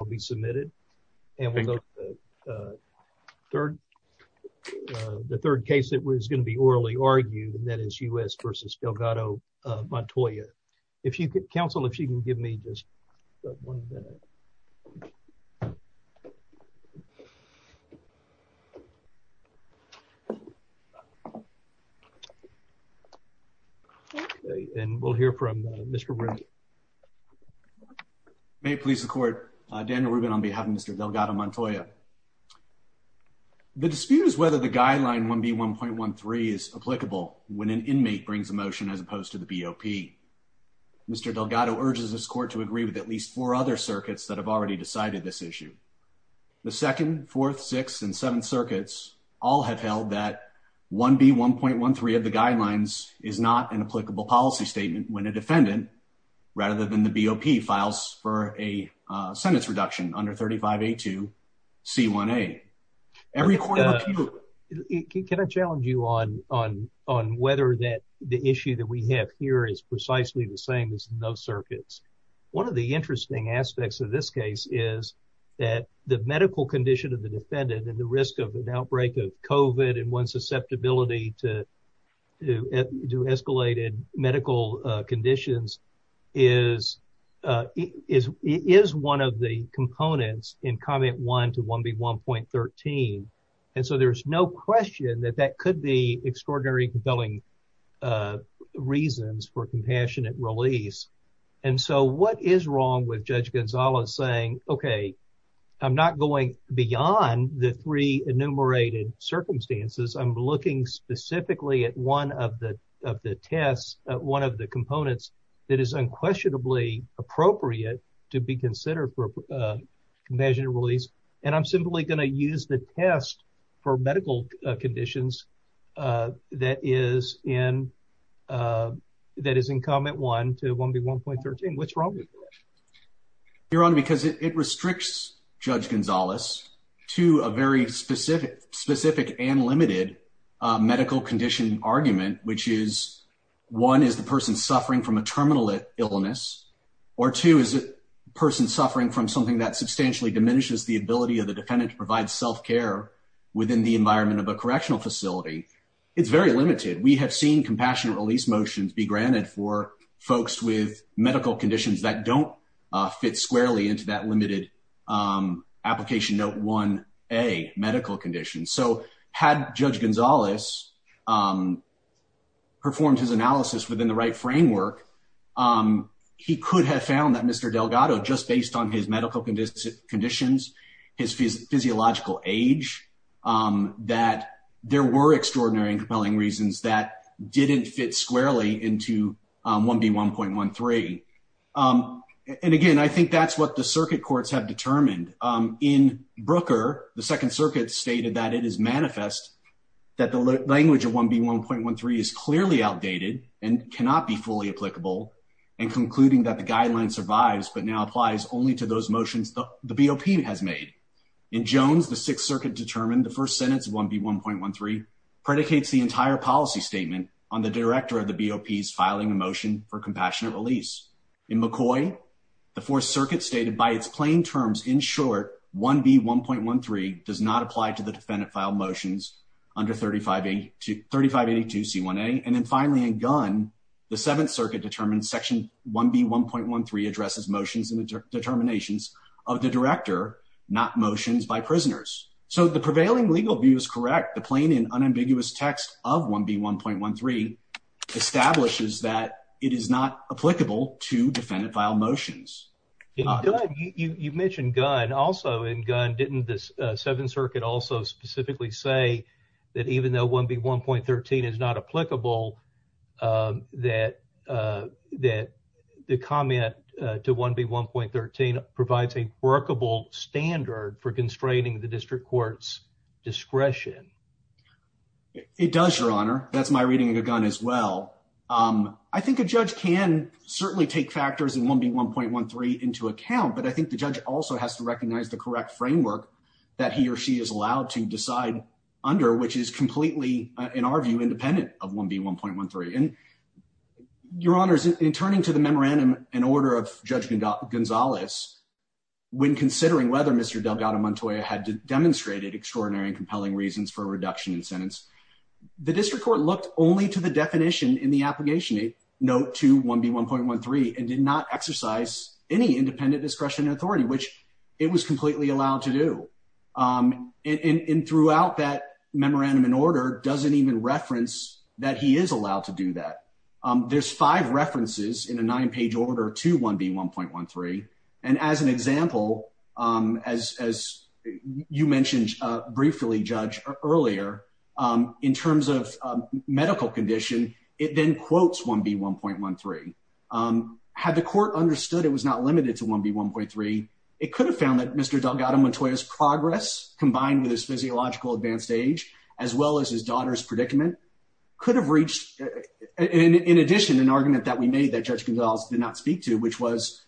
I'll be submitted and the third case that was going to be orally argued and that is U.S. v. Delgado-Montoya. Council, if you can give me just one minute. And we'll hear from Mr. Rubin. May it please the court, Daniel Rubin on behalf of Mr. Delgado-Montoya. The dispute is whether the guideline 1B.1.13 is applicable when an inmate brings a motion as opposed to the BOP. Mr. Delgado urges this court to agree with at least four other circuits that have already decided this issue. The second, fourth, sixth, and seventh circuits all have held that 1B.1.13 of the guidelines is not an applicable policy statement when a defendant, rather than the BOP, files for a sentence reduction under 35A.2.C.1.A. Can I challenge you on whether that the issue that we have here is precisely the same as in those circuits? One of the interesting aspects of this case is that the medical condition of the defendant and the risk of an outbreak of COVID and one's susceptibility to escalated medical conditions is one of the components in comment 1 to 1B.1.13. And so there's no question that that could be extraordinarily compelling reasons for compassionate release. And so what is wrong with Judge Gonzalez saying, okay, I'm not going beyond the three enumerated circumstances. I'm looking specifically at one of the tests, one of the components that is unquestionably appropriate to be considered for that is in comment 1 to 1B.1.13. What's wrong with that? Your Honor, because it restricts Judge Gonzalez to a very specific and limited medical condition argument, which is, one, is the person suffering from a terminal illness, or two, is the person suffering from something that substantially diminishes the ability of the defendant to provide self-care within the environment of a correctional facility. It's very limited. We have seen compassionate release motions be granted for folks with medical conditions that don't fit squarely into that limited application note 1A medical condition. So had Judge Gonzalez performed his analysis within the right framework, he could have found that Mr. Delgado, just based on his medical conditions, his physiological age, that there were extraordinary and compelling reasons that didn't fit squarely into 1B.1.13. And again, I think that's what the circuit courts have determined. In Brooker, the Second Circuit stated that it is manifest that the language of 1B.1.13 is clearly outdated and cannot be fully applicable, and concluding that the guideline survives but now applies only to those motions the BOP has made. In Jones, the Sixth Circuit determined the first sentence of 1B.1.13 predicates the entire policy statement on the director of the BOP's filing a motion for compassionate release. In McCoy, the Fourth Circuit stated by its plain terms, in short, 1B.1.13 does not apply to the defendant motions under 3582C1A. And then finally, in Gunn, the Seventh Circuit determined section 1B.1.13 addresses motions and determinations of the director, not motions by prisoners. So the prevailing legal view is correct. The plain and unambiguous text of 1B.1.13 establishes that it is not applicable to defendant file motions. In Gunn, you mentioned Gunn. Also in Gunn, didn't the Seventh Circuit also specifically say that even though 1B.1.13 is not applicable, that the comment to 1B.1.13 provides a workable standard for constraining the district court's discretion? It does, Your Honor. That's my reading of Gunn as well. I think a judge can certainly take factors in 1B.1.13 into account, but I think the judge also has to recognize the correct framework that he or she is allowed to decide under, which is completely, in our view, independent of 1B.1.13. And, Your Honors, in turning to the memorandum and order of Judge Gonzalez, when considering whether Mr. Delgado Montoya had demonstrated extraordinary and compelling reasons for a reduction in sentence, the district court looked only to the definition in the application note to 1B.1.13 and did not exercise any independent discretion and authority, which it was completely allowed to do. And throughout that memorandum and order doesn't even reference that he is allowed to do that. There's five references in a nine-page order to 1B.1.13, and as an example, as you briefly mentioned, Judge, earlier, in terms of medical condition, it then quotes 1B.1.13. Had the court understood it was not limited to 1B.1.3, it could have found that Mr. Delgado Montoya's progress, combined with his physiological advanced age as well as his daughter's predicament could have reached, in addition, an argument that we made that Judge Gonzalez did not speak to, which was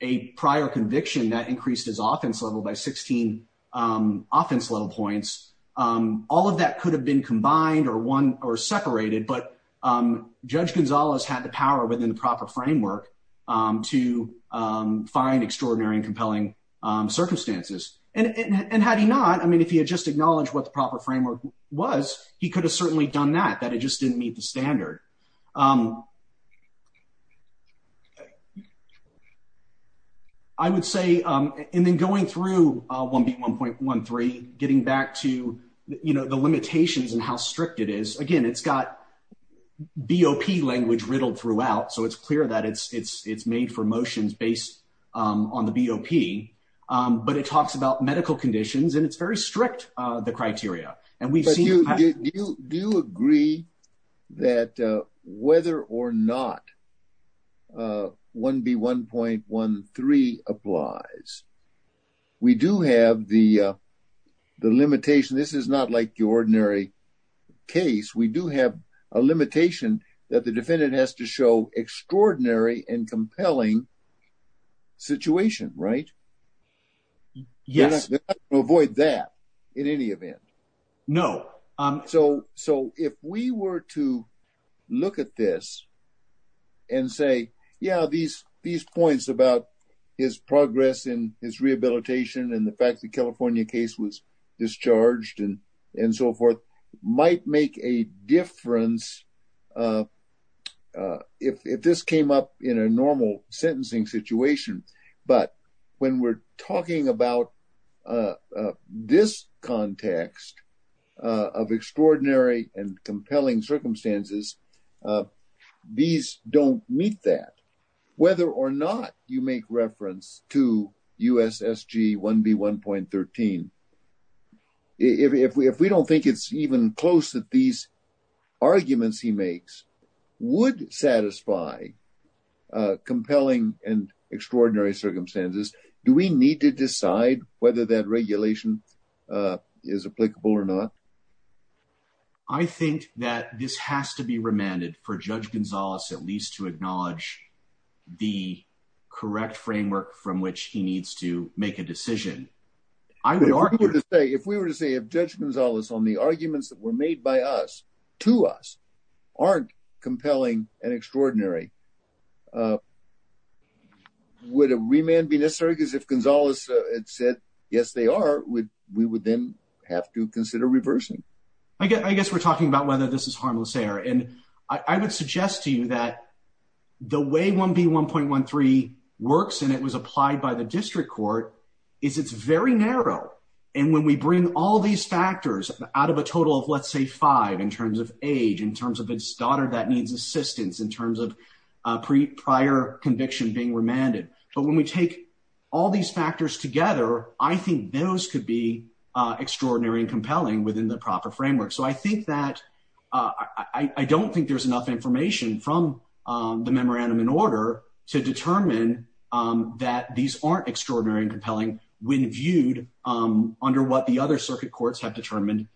a prior conviction that increased his offense level by 16 offense level points. All of that could have been combined or separated, but Judge Gonzalez had the power within the proper framework to find extraordinary and compelling circumstances. And had he not, I mean, if he had just acknowledged what the proper framework was, he could have certainly done that, that it just didn't meet the standard. I would say, and then going through 1B.1.13, getting back to, you know, the limitations and how strict it is, again, it's got BOP language riddled throughout, so it's clear that it's made for motions based on the BOP, but it talks about medical conditions, and it's very strict, the criteria. And we've seen- Do you agree that whether or not 1B.1.13 applies, we do have the limitation, this is not like the ordinary case, we do have a limitation that the defendant has to show extraordinary and compelling situation, right? Yes. Avoid that in any event. No. So if we were to look at this and say, yeah, these points about his progress in his rehabilitation and the fact that California case was discharged and so forth might make a difference if this came up in a normal sentencing situation, but when we're talking about this context of extraordinary and compelling circumstances, these don't meet that. Whether or not you make reference to USSG 1B.1.13, if we don't think it's even close that these arguments he makes would satisfy compelling and extraordinary circumstances, do we need to decide whether that regulation is applicable or not? I think that this has to be remanded for Judge Gonzales at least to acknowledge the correct framework from which he needs to make a decision. If we were to say if Judge Gonzales on the arguments that were made by us, to us, aren't compelling and extraordinary, would a remand be necessary? Because if Gonzales had said, yes, they are, we would then have to consider reversing. I guess we're talking about whether this is harmless error. And I would suggest to you that the way 1B.1.13 works and it was applied by the district court is it's very narrow. And when we bring all these factors out of a total of, let's say, five in terms of age, in terms of its daughter that needs assistance, in terms of prior conviction being remanded. But when we take all these factors together, I think those could be extraordinary and compelling within the proper framework. So I think that I don't think there's enough information from the memorandum in order to when viewed under what the other circuit courts have determined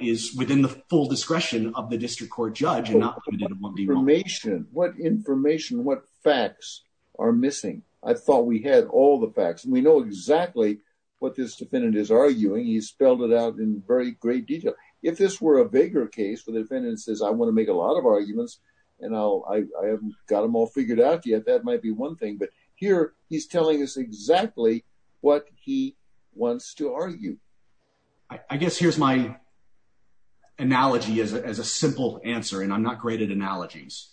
is within the full discretion of the district court judge. And not limited to 1B.1. Information. What information, what facts are missing? I thought we had all the facts. And we know exactly what this defendant is arguing. He's spelled it out in very great detail. If this were a bigger case where the defendant says, I want to make a lot of arguments and I haven't got them all figured out yet, that might be one thing. But here, he's telling us exactly what he wants to argue. I guess here's my analogy as a simple answer. And I'm not great at analogies.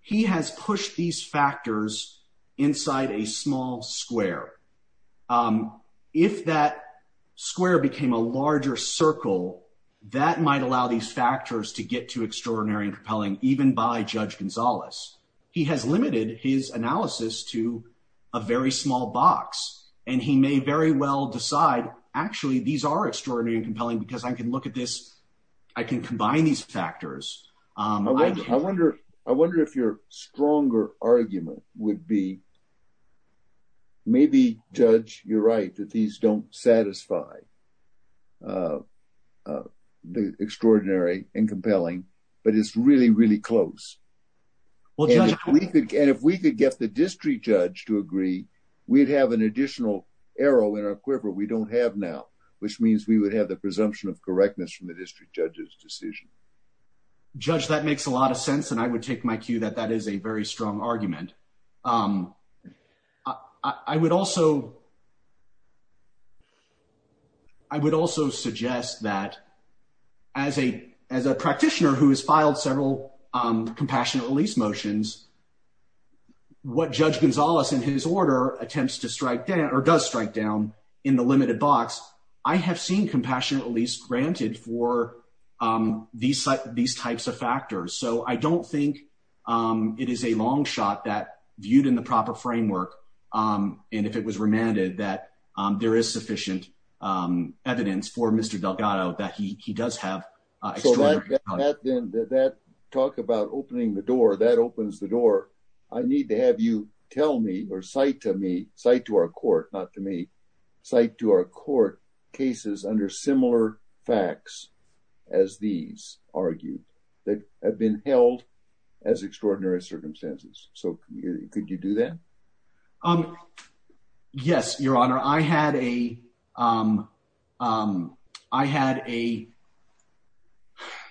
He has pushed these factors inside a small square. If that square became a larger circle, that might allow these factors to get to extraordinary and compelling, even by Judge Gonzalez. He has limited his analysis to a very small box. And he may very well decide, actually, these are extraordinary and compelling because I can look at this, I can combine these factors. I wonder if your stronger argument would be, maybe, Judge, you're right, that these don't satisfy the extraordinary and compelling. But it's really, really close. And if we could get the district judge to agree, we'd have an additional arrow in our quiver we don't have now, which means we would have the presumption of correctness from the district judge's decision. Judge, that makes a lot of sense. And I would take my cue that that is a very strong argument. I would also suggest that, as a practitioner who has filed several compassionate release motions, what Judge Gonzalez, in his order, attempts to strike down, or does strike down, in the limited box, I have seen compassionate release granted for these types of factors. So I don't think it is a long shot that, viewed in the proper framework, and if it was remanded, that there is sufficient evidence for Mr. Delgado that he does have extraordinary power. That talk about opening the door, that opens the door. I need to have you tell me, or cite to me, cite to our court, not to me, cite to our court, cases under similar facts as these argued that have been held as extraordinary circumstances. So could you do that? Yes, Your Honor. I had a,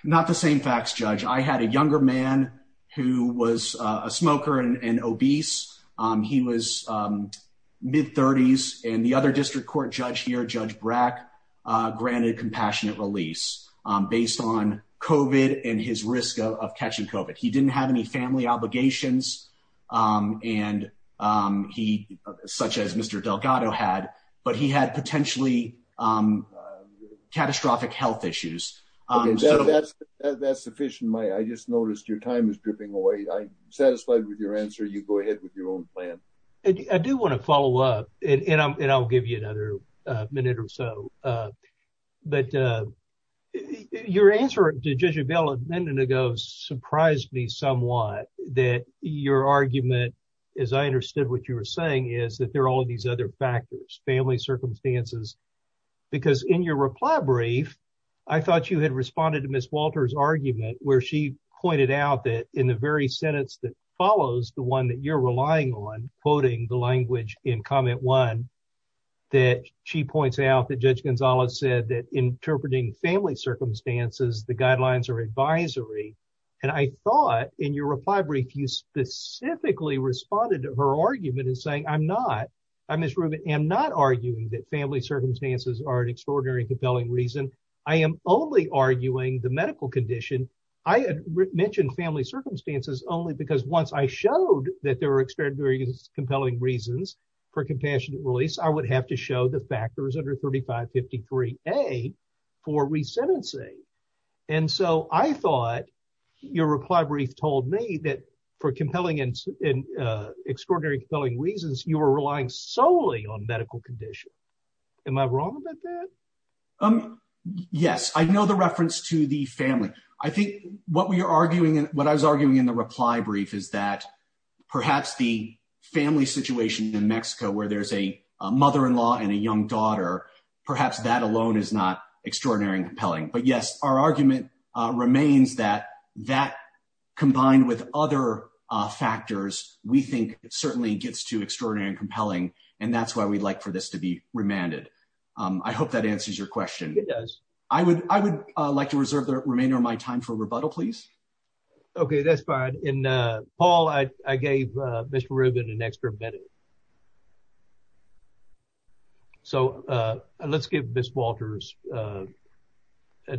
not the same facts, Judge. I had a younger man who was a smoker and obese. He was mid-30s. And the other district court judge here, Judge Brack, granted compassionate release based on COVID and his risk of catching COVID. He didn't have any family obligations, and he, such as Mr. Delgado had, but he had potentially catastrophic health issues. That's sufficient. I just noticed your time is dripping away. I'm satisfied with your answer. You go ahead with your own plan. I do want to follow up, and I'll give you another minute or so. But your answer to Judge Avella a minute ago surprised me somewhat, that your argument, as I understood what you were saying, is that there are all of these other factors, family circumstances, because in your reply brief, I thought you had responded to Ms. Walter's argument where she pointed out that in the very sentence that follows the one that you're that interpreting family circumstances, the guidelines are advisory. And I thought in your reply brief, you specifically responded to her argument and saying, I'm not, I, Ms. Rubin, am not arguing that family circumstances are an extraordinary compelling reason. I am only arguing the medical condition. I had mentioned family circumstances only because once I showed that there are extraordinary compelling reasons for compassionate release, I would have to show the factors under 3553A for resentencing. And so I thought your reply brief told me that for compelling and extraordinary compelling reasons, you were relying solely on medical condition. Am I wrong about that? Yes. I know the reference to the family. I think what we are arguing, what I was arguing in the reply brief is that perhaps the family situation in Mexico where there's a mother-in-law and a young daughter, perhaps that alone is not extraordinary and compelling. But yes, our argument remains that that combined with other factors, we think it certainly gets to extraordinary and compelling. And that's why we'd like for this to be remanded. I hope that answers your question. It does. I would like to reserve the remainder of my time for rebuttal, please. Okay, that's fine. And Paul, I gave Mr. Rubin an extra minute. So let's give Ms. Walters an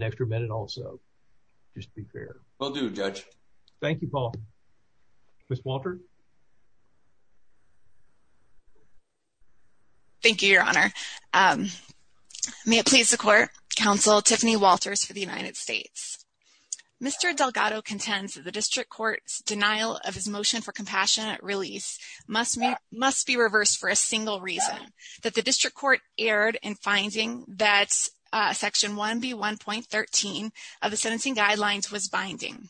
extra minute also, just to be fair. Will do, Judge. Thank you, Paul. Ms. Walters? Thank you, Your Honor. May it please the Court, Counsel Tiffany Walters for the United States. Mr. Delgado contends that the district court's denial of his motion for compassionate release must be reversed for a single reason, that the district court erred in finding that section 1B1.13 of the sentencing guidelines was binding.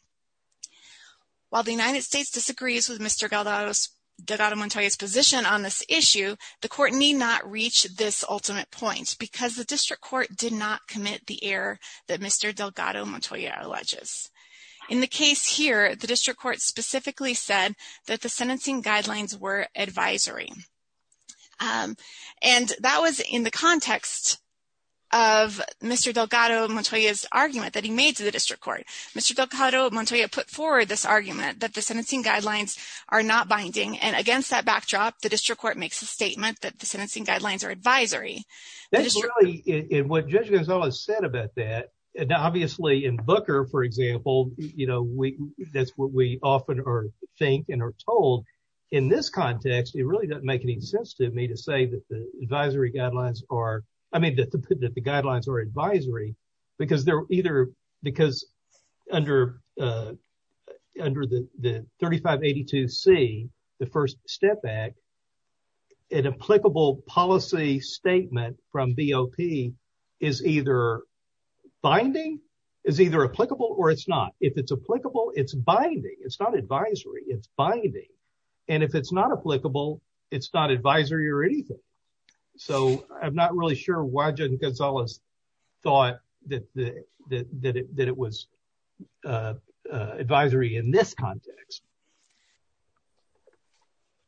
While the United States disagrees with Mr. Delgado Montoya's position on this issue, the court need not reach this ultimate point because the district court did not commit the error that Mr. Delgado Montoya alleges. In the case here, the district court specifically said that the sentencing guidelines were advisory. And that was in the context of Mr. Delgado Montoya's argument that he made to the district court. Mr. Delgado Montoya put forward this argument that the sentencing guidelines are not binding. And against that backdrop, the district court makes a statement that the sentencing guidelines are advisory. And what Judge Gonzalez said about that, and obviously in Booker, for example, you know, that's what we often think and are told. In this context, it really doesn't make any sense to me to say that the advisory guidelines are, I mean, that the guidelines are advisory because they're either, because under the 3582C, First Step Act, an applicable policy statement from BOP is either binding, is either applicable or it's not. If it's applicable, it's binding. It's not advisory, it's binding. And if it's not applicable, it's not advisory or anything. So I'm not really sure why Judge Gonzalez thought that it was advisory in this context.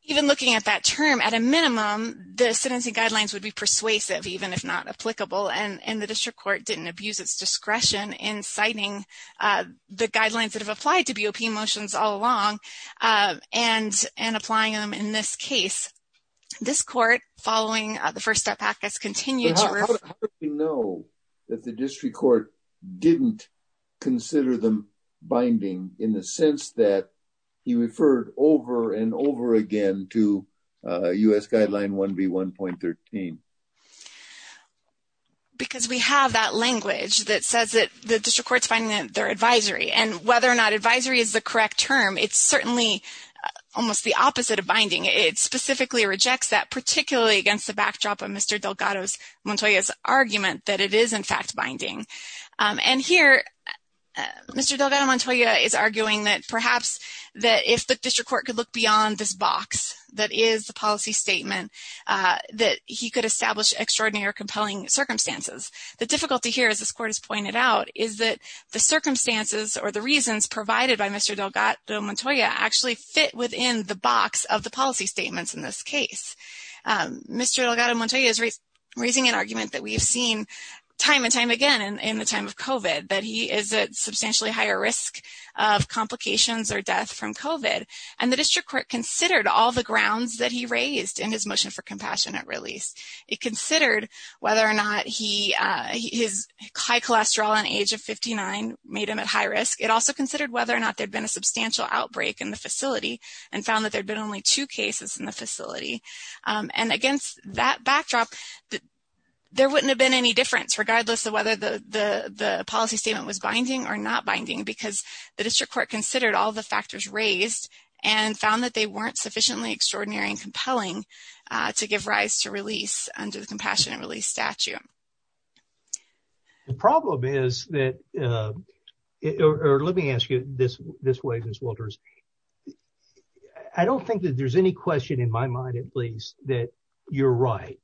Even looking at that term, at a minimum, the sentencing guidelines would be persuasive, even if not applicable. And the district court didn't abuse its discretion in citing the guidelines that have applied to BOP motions all along and applying them in this case. This court, following the First Step Act, has continued to refer- But how do we know that the district court didn't consider them binding in the sense that he referred over and over again to U.S. Guideline 1B1.13? Because we have that language that says that the district court's finding that they're advisory. And whether or not advisory is the correct term, it's certainly almost the opposite of binding. It specifically rejects that, particularly against the backdrop of Mr. Delgado Montoya's And here, Mr. Delgado Montoya is arguing that perhaps that if the district court could look beyond this box that is the policy statement, that he could establish extraordinary or compelling circumstances. The difficulty here, as this court has pointed out, is that the circumstances or the reasons provided by Mr. Delgado Montoya actually fit within the box of the policy statements in this case. Mr. Delgado Montoya is raising an argument that we've seen time and time again in the time of COVID, that he is at substantially higher risk of complications or death from COVID. And the district court considered all the grounds that he raised in his motion for compassionate release. It considered whether or not his high cholesterol at the age of 59 made him at high risk. It also considered whether or not there'd been a substantial outbreak in the facility and found that there'd been only two cases in the facility. And against that backdrop, there wouldn't have been any difference, regardless of whether the policy statement was binding or not binding, because the district court considered all the factors raised and found that they weren't sufficiently extraordinary and compelling to give rise to release under the compassionate release statute. The problem is that, or let me ask you this way, Ms. Walters. I don't think that there's any question in my mind, at least, that you're right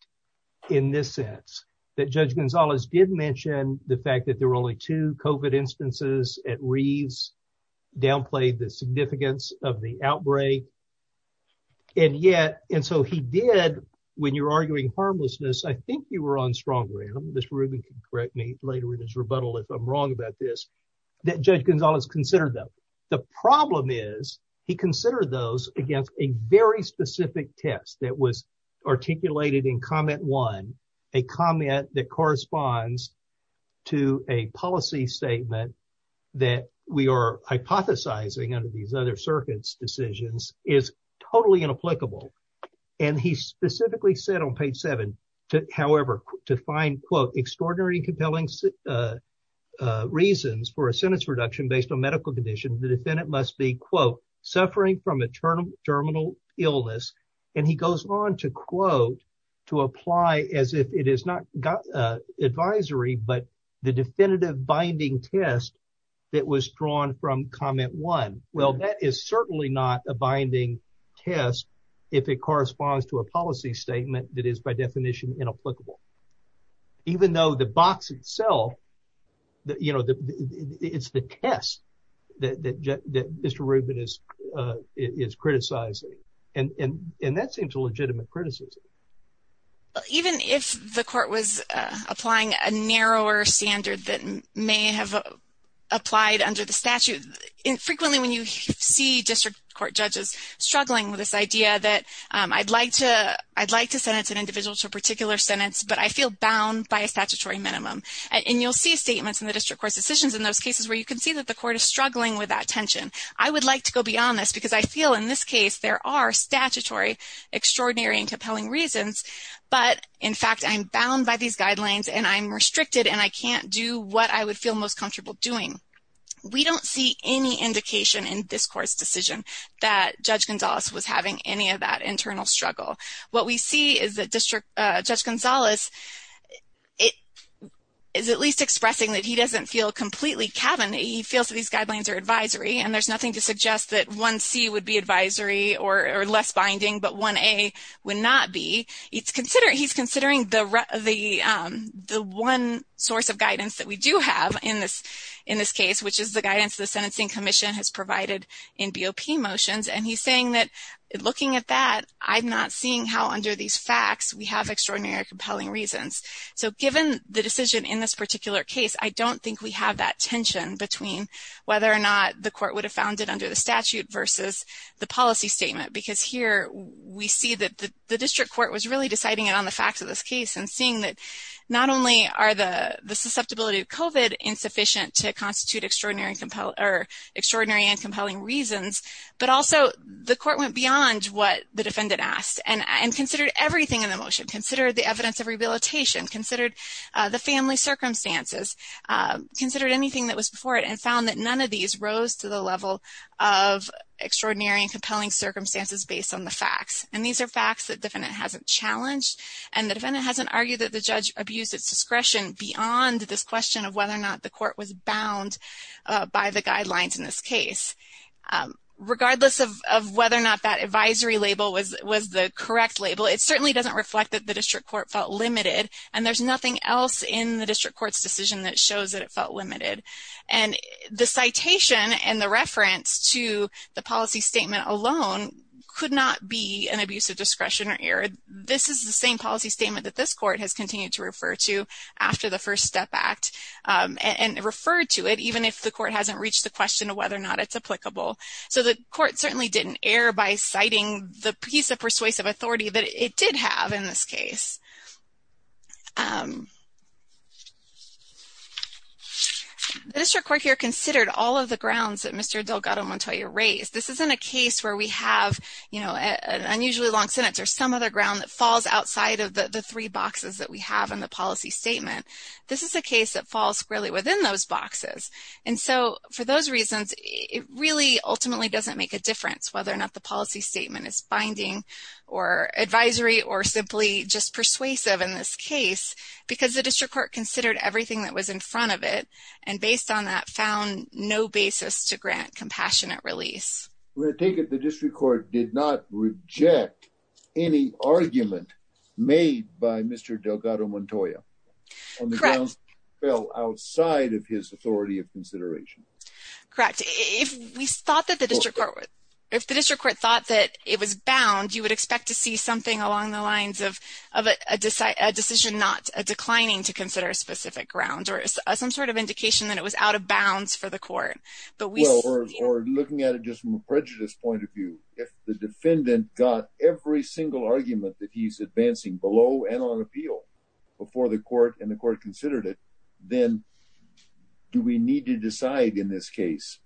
in this sense, that Judge Gonzalez did mention the fact that there were only two COVID instances at Reeves downplayed the significance of the outbreak. And yet, and so he did, when you're arguing harmlessness, I think you were on strong ground, Mr. Rubin can correct me later in his rebuttal if I'm wrong about this, that Judge Gonzalez considered them. The problem is he considered those against a very specific test that was articulated in comment one, a comment that corresponds to a policy statement that we are hypothesizing under these other circuits decisions is totally inapplicable. And he specifically said on page seven, however, to find quote, extraordinary compelling reasons for a sentence reduction based on medical conditions, the defendant must be quote, suffering from a terminal illness. And he goes on to quote, to apply as if it is not advisory, but the definitive binding test that was drawn from comment one. Well, that is certainly not a binding test if it corresponds to a policy statement that is inapplicable. Even though the box itself, it's the test that Mr. Rubin is criticizing. And that seems a legitimate criticism. Even if the court was applying a narrower standard that may have applied under the statute, frequently when you see district court judges struggling with this idea that I'd like to individual to a particular sentence, but I feel bound by a statutory minimum. And you'll see statements in the district court's decisions in those cases where you can see that the court is struggling with that tension. I would like to go beyond this because I feel in this case there are statutory, extraordinary and compelling reasons. But in fact, I'm bound by these guidelines and I'm restricted and I can't do what I would feel most comfortable doing. We don't see any indication in this court's decision that Judge Gonzalez was having any of that internal struggle. What we see is that Judge Gonzalez is at least expressing that he doesn't feel completely cabinet. He feels that these guidelines are advisory and there's nothing to suggest that 1C would be advisory or less binding, but 1A would not be. He's considering the one source of guidance that we do have in this case, which is the guidance the Sentencing Commission has these facts, we have extraordinary compelling reasons. So given the decision in this particular case, I don't think we have that tension between whether or not the court would have found it under the statute versus the policy statement. Because here we see that the district court was really deciding it on the facts of this case and seeing that not only are the susceptibility of COVID insufficient to constitute extraordinary and compelling reasons, but also the court went beyond what the defendant asked and considered everything in the motion. Considered the evidence of rehabilitation, considered the family circumstances, considered anything that was before it and found that none of these rose to the level of extraordinary and compelling circumstances based on the facts. And these are facts that defendant hasn't challenged and the defendant hasn't argued that the judge abused its discretion beyond this question of whether or not the court was bound by the guidelines in this case. Regardless of whether or not that advisory label was the correct label, it certainly doesn't reflect that the district court felt limited and there's nothing else in the district court's decision that shows that it felt limited. And the citation and the reference to the policy statement alone could not be an abuse of discretion or error. This is the same policy statement that this court has continued to refer to after the First Step Act and referred to it even if the court hasn't reached the question of whether or not it's applicable. So the court certainly didn't err by citing the piece of persuasive authority that it did have in this case. The district court here considered all of the grounds that Mr. Delgado Montoya raised. This isn't a case where we have, you know, an unusually long sentence or some other ground that falls outside of the three boxes that we have in the policy statement. This is a case that falls squarely within those boxes and so for those reasons it really ultimately doesn't make a difference whether or not the policy statement is binding or advisory or simply just persuasive in this case because the district court considered everything that was in front of it and based on that found no basis to grant compassionate release. I'm going to take it the district court did not reject any argument made by Mr. Delgado Montoya on the grounds it fell outside of his authority of consideration. Correct. If we thought that the district court, if the district court thought that it was bound you would expect to see something along the lines of a decision not declining to consider a specific ground or some indication that it was out of bounds for the court. Or looking at it just from a prejudice point of view, if the defendant got every single argument that he's advancing below and on appeal before the court and the court considered it, then do we need to decide in this case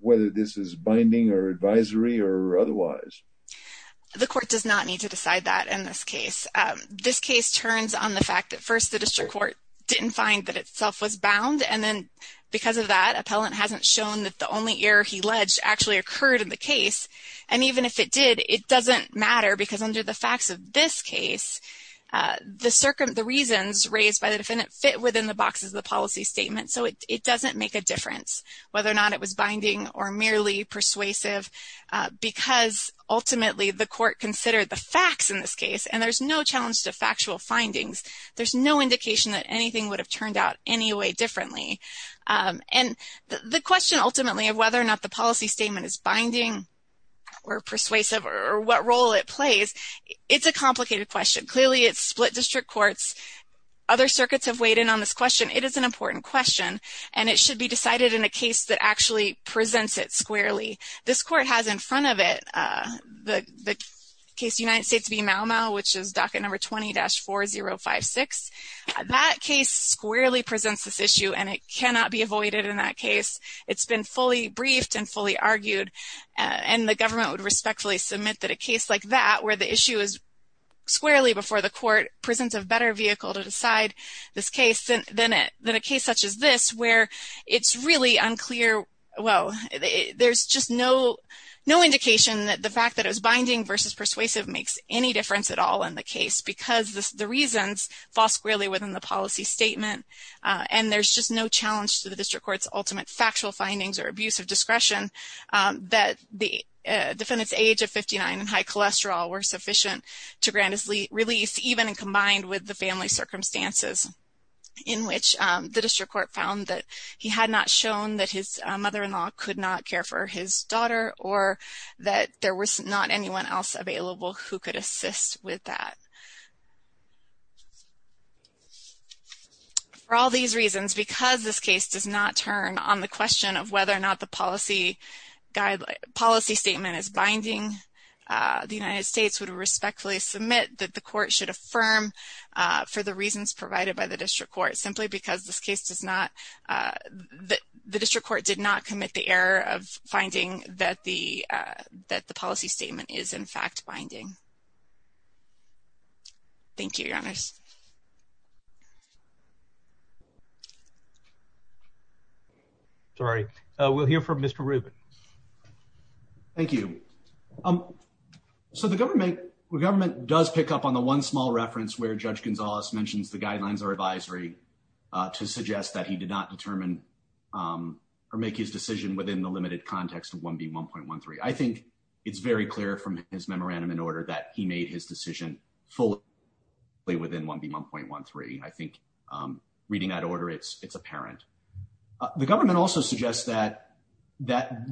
whether this is binding or advisory or otherwise? The court does not need to decide that in this case turns on the fact that first the district court didn't find that itself was bound and then because of that appellant hasn't shown that the only error he alleged actually occurred in the case and even if it did it doesn't matter because under the facts of this case, the reasons raised by the defendant fit within the boxes of the policy statement so it doesn't make a difference whether or not it was binding or merely persuasive because ultimately the court considered the facts in this case and there's no challenge to factual findings. There's no indication that anything would have turned out any way differently and the question ultimately of whether or not the policy statement is binding or persuasive or what role it plays, it's a complicated question. Clearly it's split district courts. Other circuits have weighed in on this question. It is an important question and it should be decided in a case that actually presents it squarely. This court has in front of the case United States v. Mau Mau which is docket number 20-4056. That case squarely presents this issue and it cannot be avoided in that case. It's been fully briefed and fully argued and the government would respectfully submit that a case like that where the issue is squarely before the court presents a better vehicle to decide this case than it than a case such as this where it's really unclear. Well, there's just no indication that the fact that it was binding versus persuasive makes any difference at all in the case because the reasons fall squarely within the policy statement and there's just no challenge to the district court's ultimate factual findings or abuse of discretion that the defendant's age of 59 and high cholesterol were sufficient to grant his release even and combined with the family circumstances in which the district court found that he had not shown that his mother-in-law could not care for his daughter or that there was not anyone else available who could assist with that. For all these reasons, because this case does not turn on the question of whether or not the policy statement is binding, the United States would respectfully submit that the court should affirm for the reasons provided by the district court simply because the district court did not commit the error of finding that the policy statement is in fact binding. Thank you, your honors. Sorry, we'll hear from Mr. Rubin. Thank you. So the government does pick up on the small reference where Judge Gonzalez mentions the guidelines or advisory to suggest that he did not determine or make his decision within the limited context of 1B1.13. I think it's very clear from his memorandum in order that he made his decision fully within 1B1.13. I think reading that order, it's apparent. The government also suggests that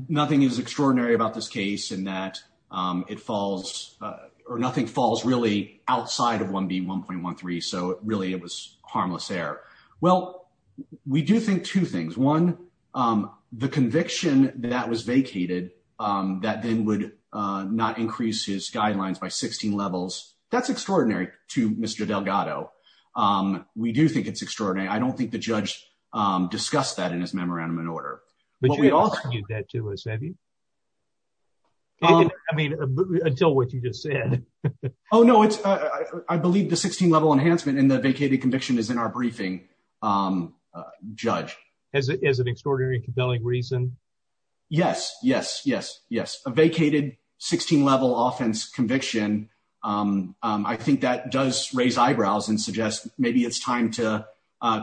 nothing is of 1B1.13, so really it was harmless error. Well, we do think two things. One, the conviction that was vacated that then would not increase his guidelines by 16 levels, that's extraordinary to Mr. Delgado. We do think it's extraordinary. I don't think the judge discussed that in his memorandum in order. But you haven't argued that to us, have you? I mean, until what you just said. Oh, no. I believe the 16-level enhancement in the vacated conviction is in our briefing, Judge. Is it an extraordinary and compelling reason? Yes, yes, yes, yes. A vacated 16-level offense conviction, I think that does raise eyebrows and suggests maybe it's time to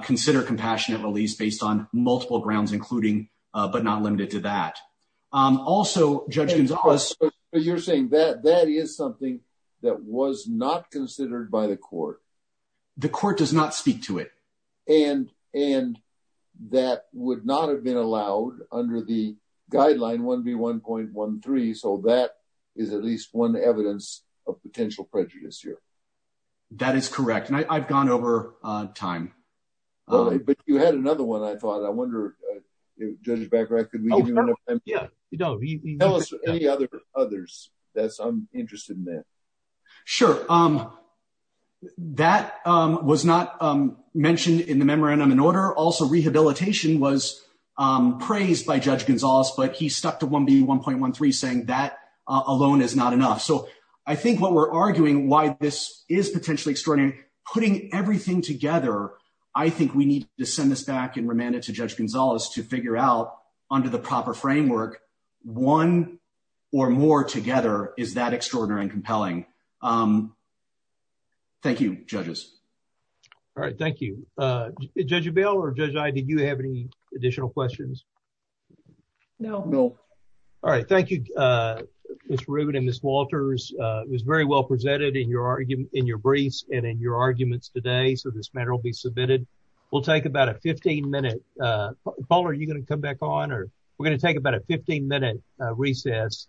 consider compassionate release based on multiple grounds, including but not limited to that. Also, Judge Gonzales. You're saying that that is something that was not considered by the court. The court does not speak to it. And that would not have been allowed under the guideline 1B1.13, so that is at least one evidence of potential prejudice here. That is correct. And I've gone over time. But you had another one, I thought. I wonder, Judge Becker, could we give you another time? Tell us any others that I'm interested in that. Sure. That was not mentioned in the memorandum in order. Also, rehabilitation was praised by Judge Gonzales, but he stuck to 1B1.13, saying that alone is not enough. So I think what we're arguing, why this is potentially extraordinary, putting everything together, I think we need to send this back and remand it to Judge Gonzales to figure out under the proper framework, one or more together is that extraordinary and compelling. Thank you, judges. All right. Thank you. Judge Abell or Judge I, did you have any additional questions? No. No. All right. Thank you, Ms. Rubin and Ms. Walters. It was very well presented in your briefs and in your arguments today. So this matter will be submitted. We'll take about a 15 minute poll. Are you going to come back on? We're going to take about a 15 minute recess.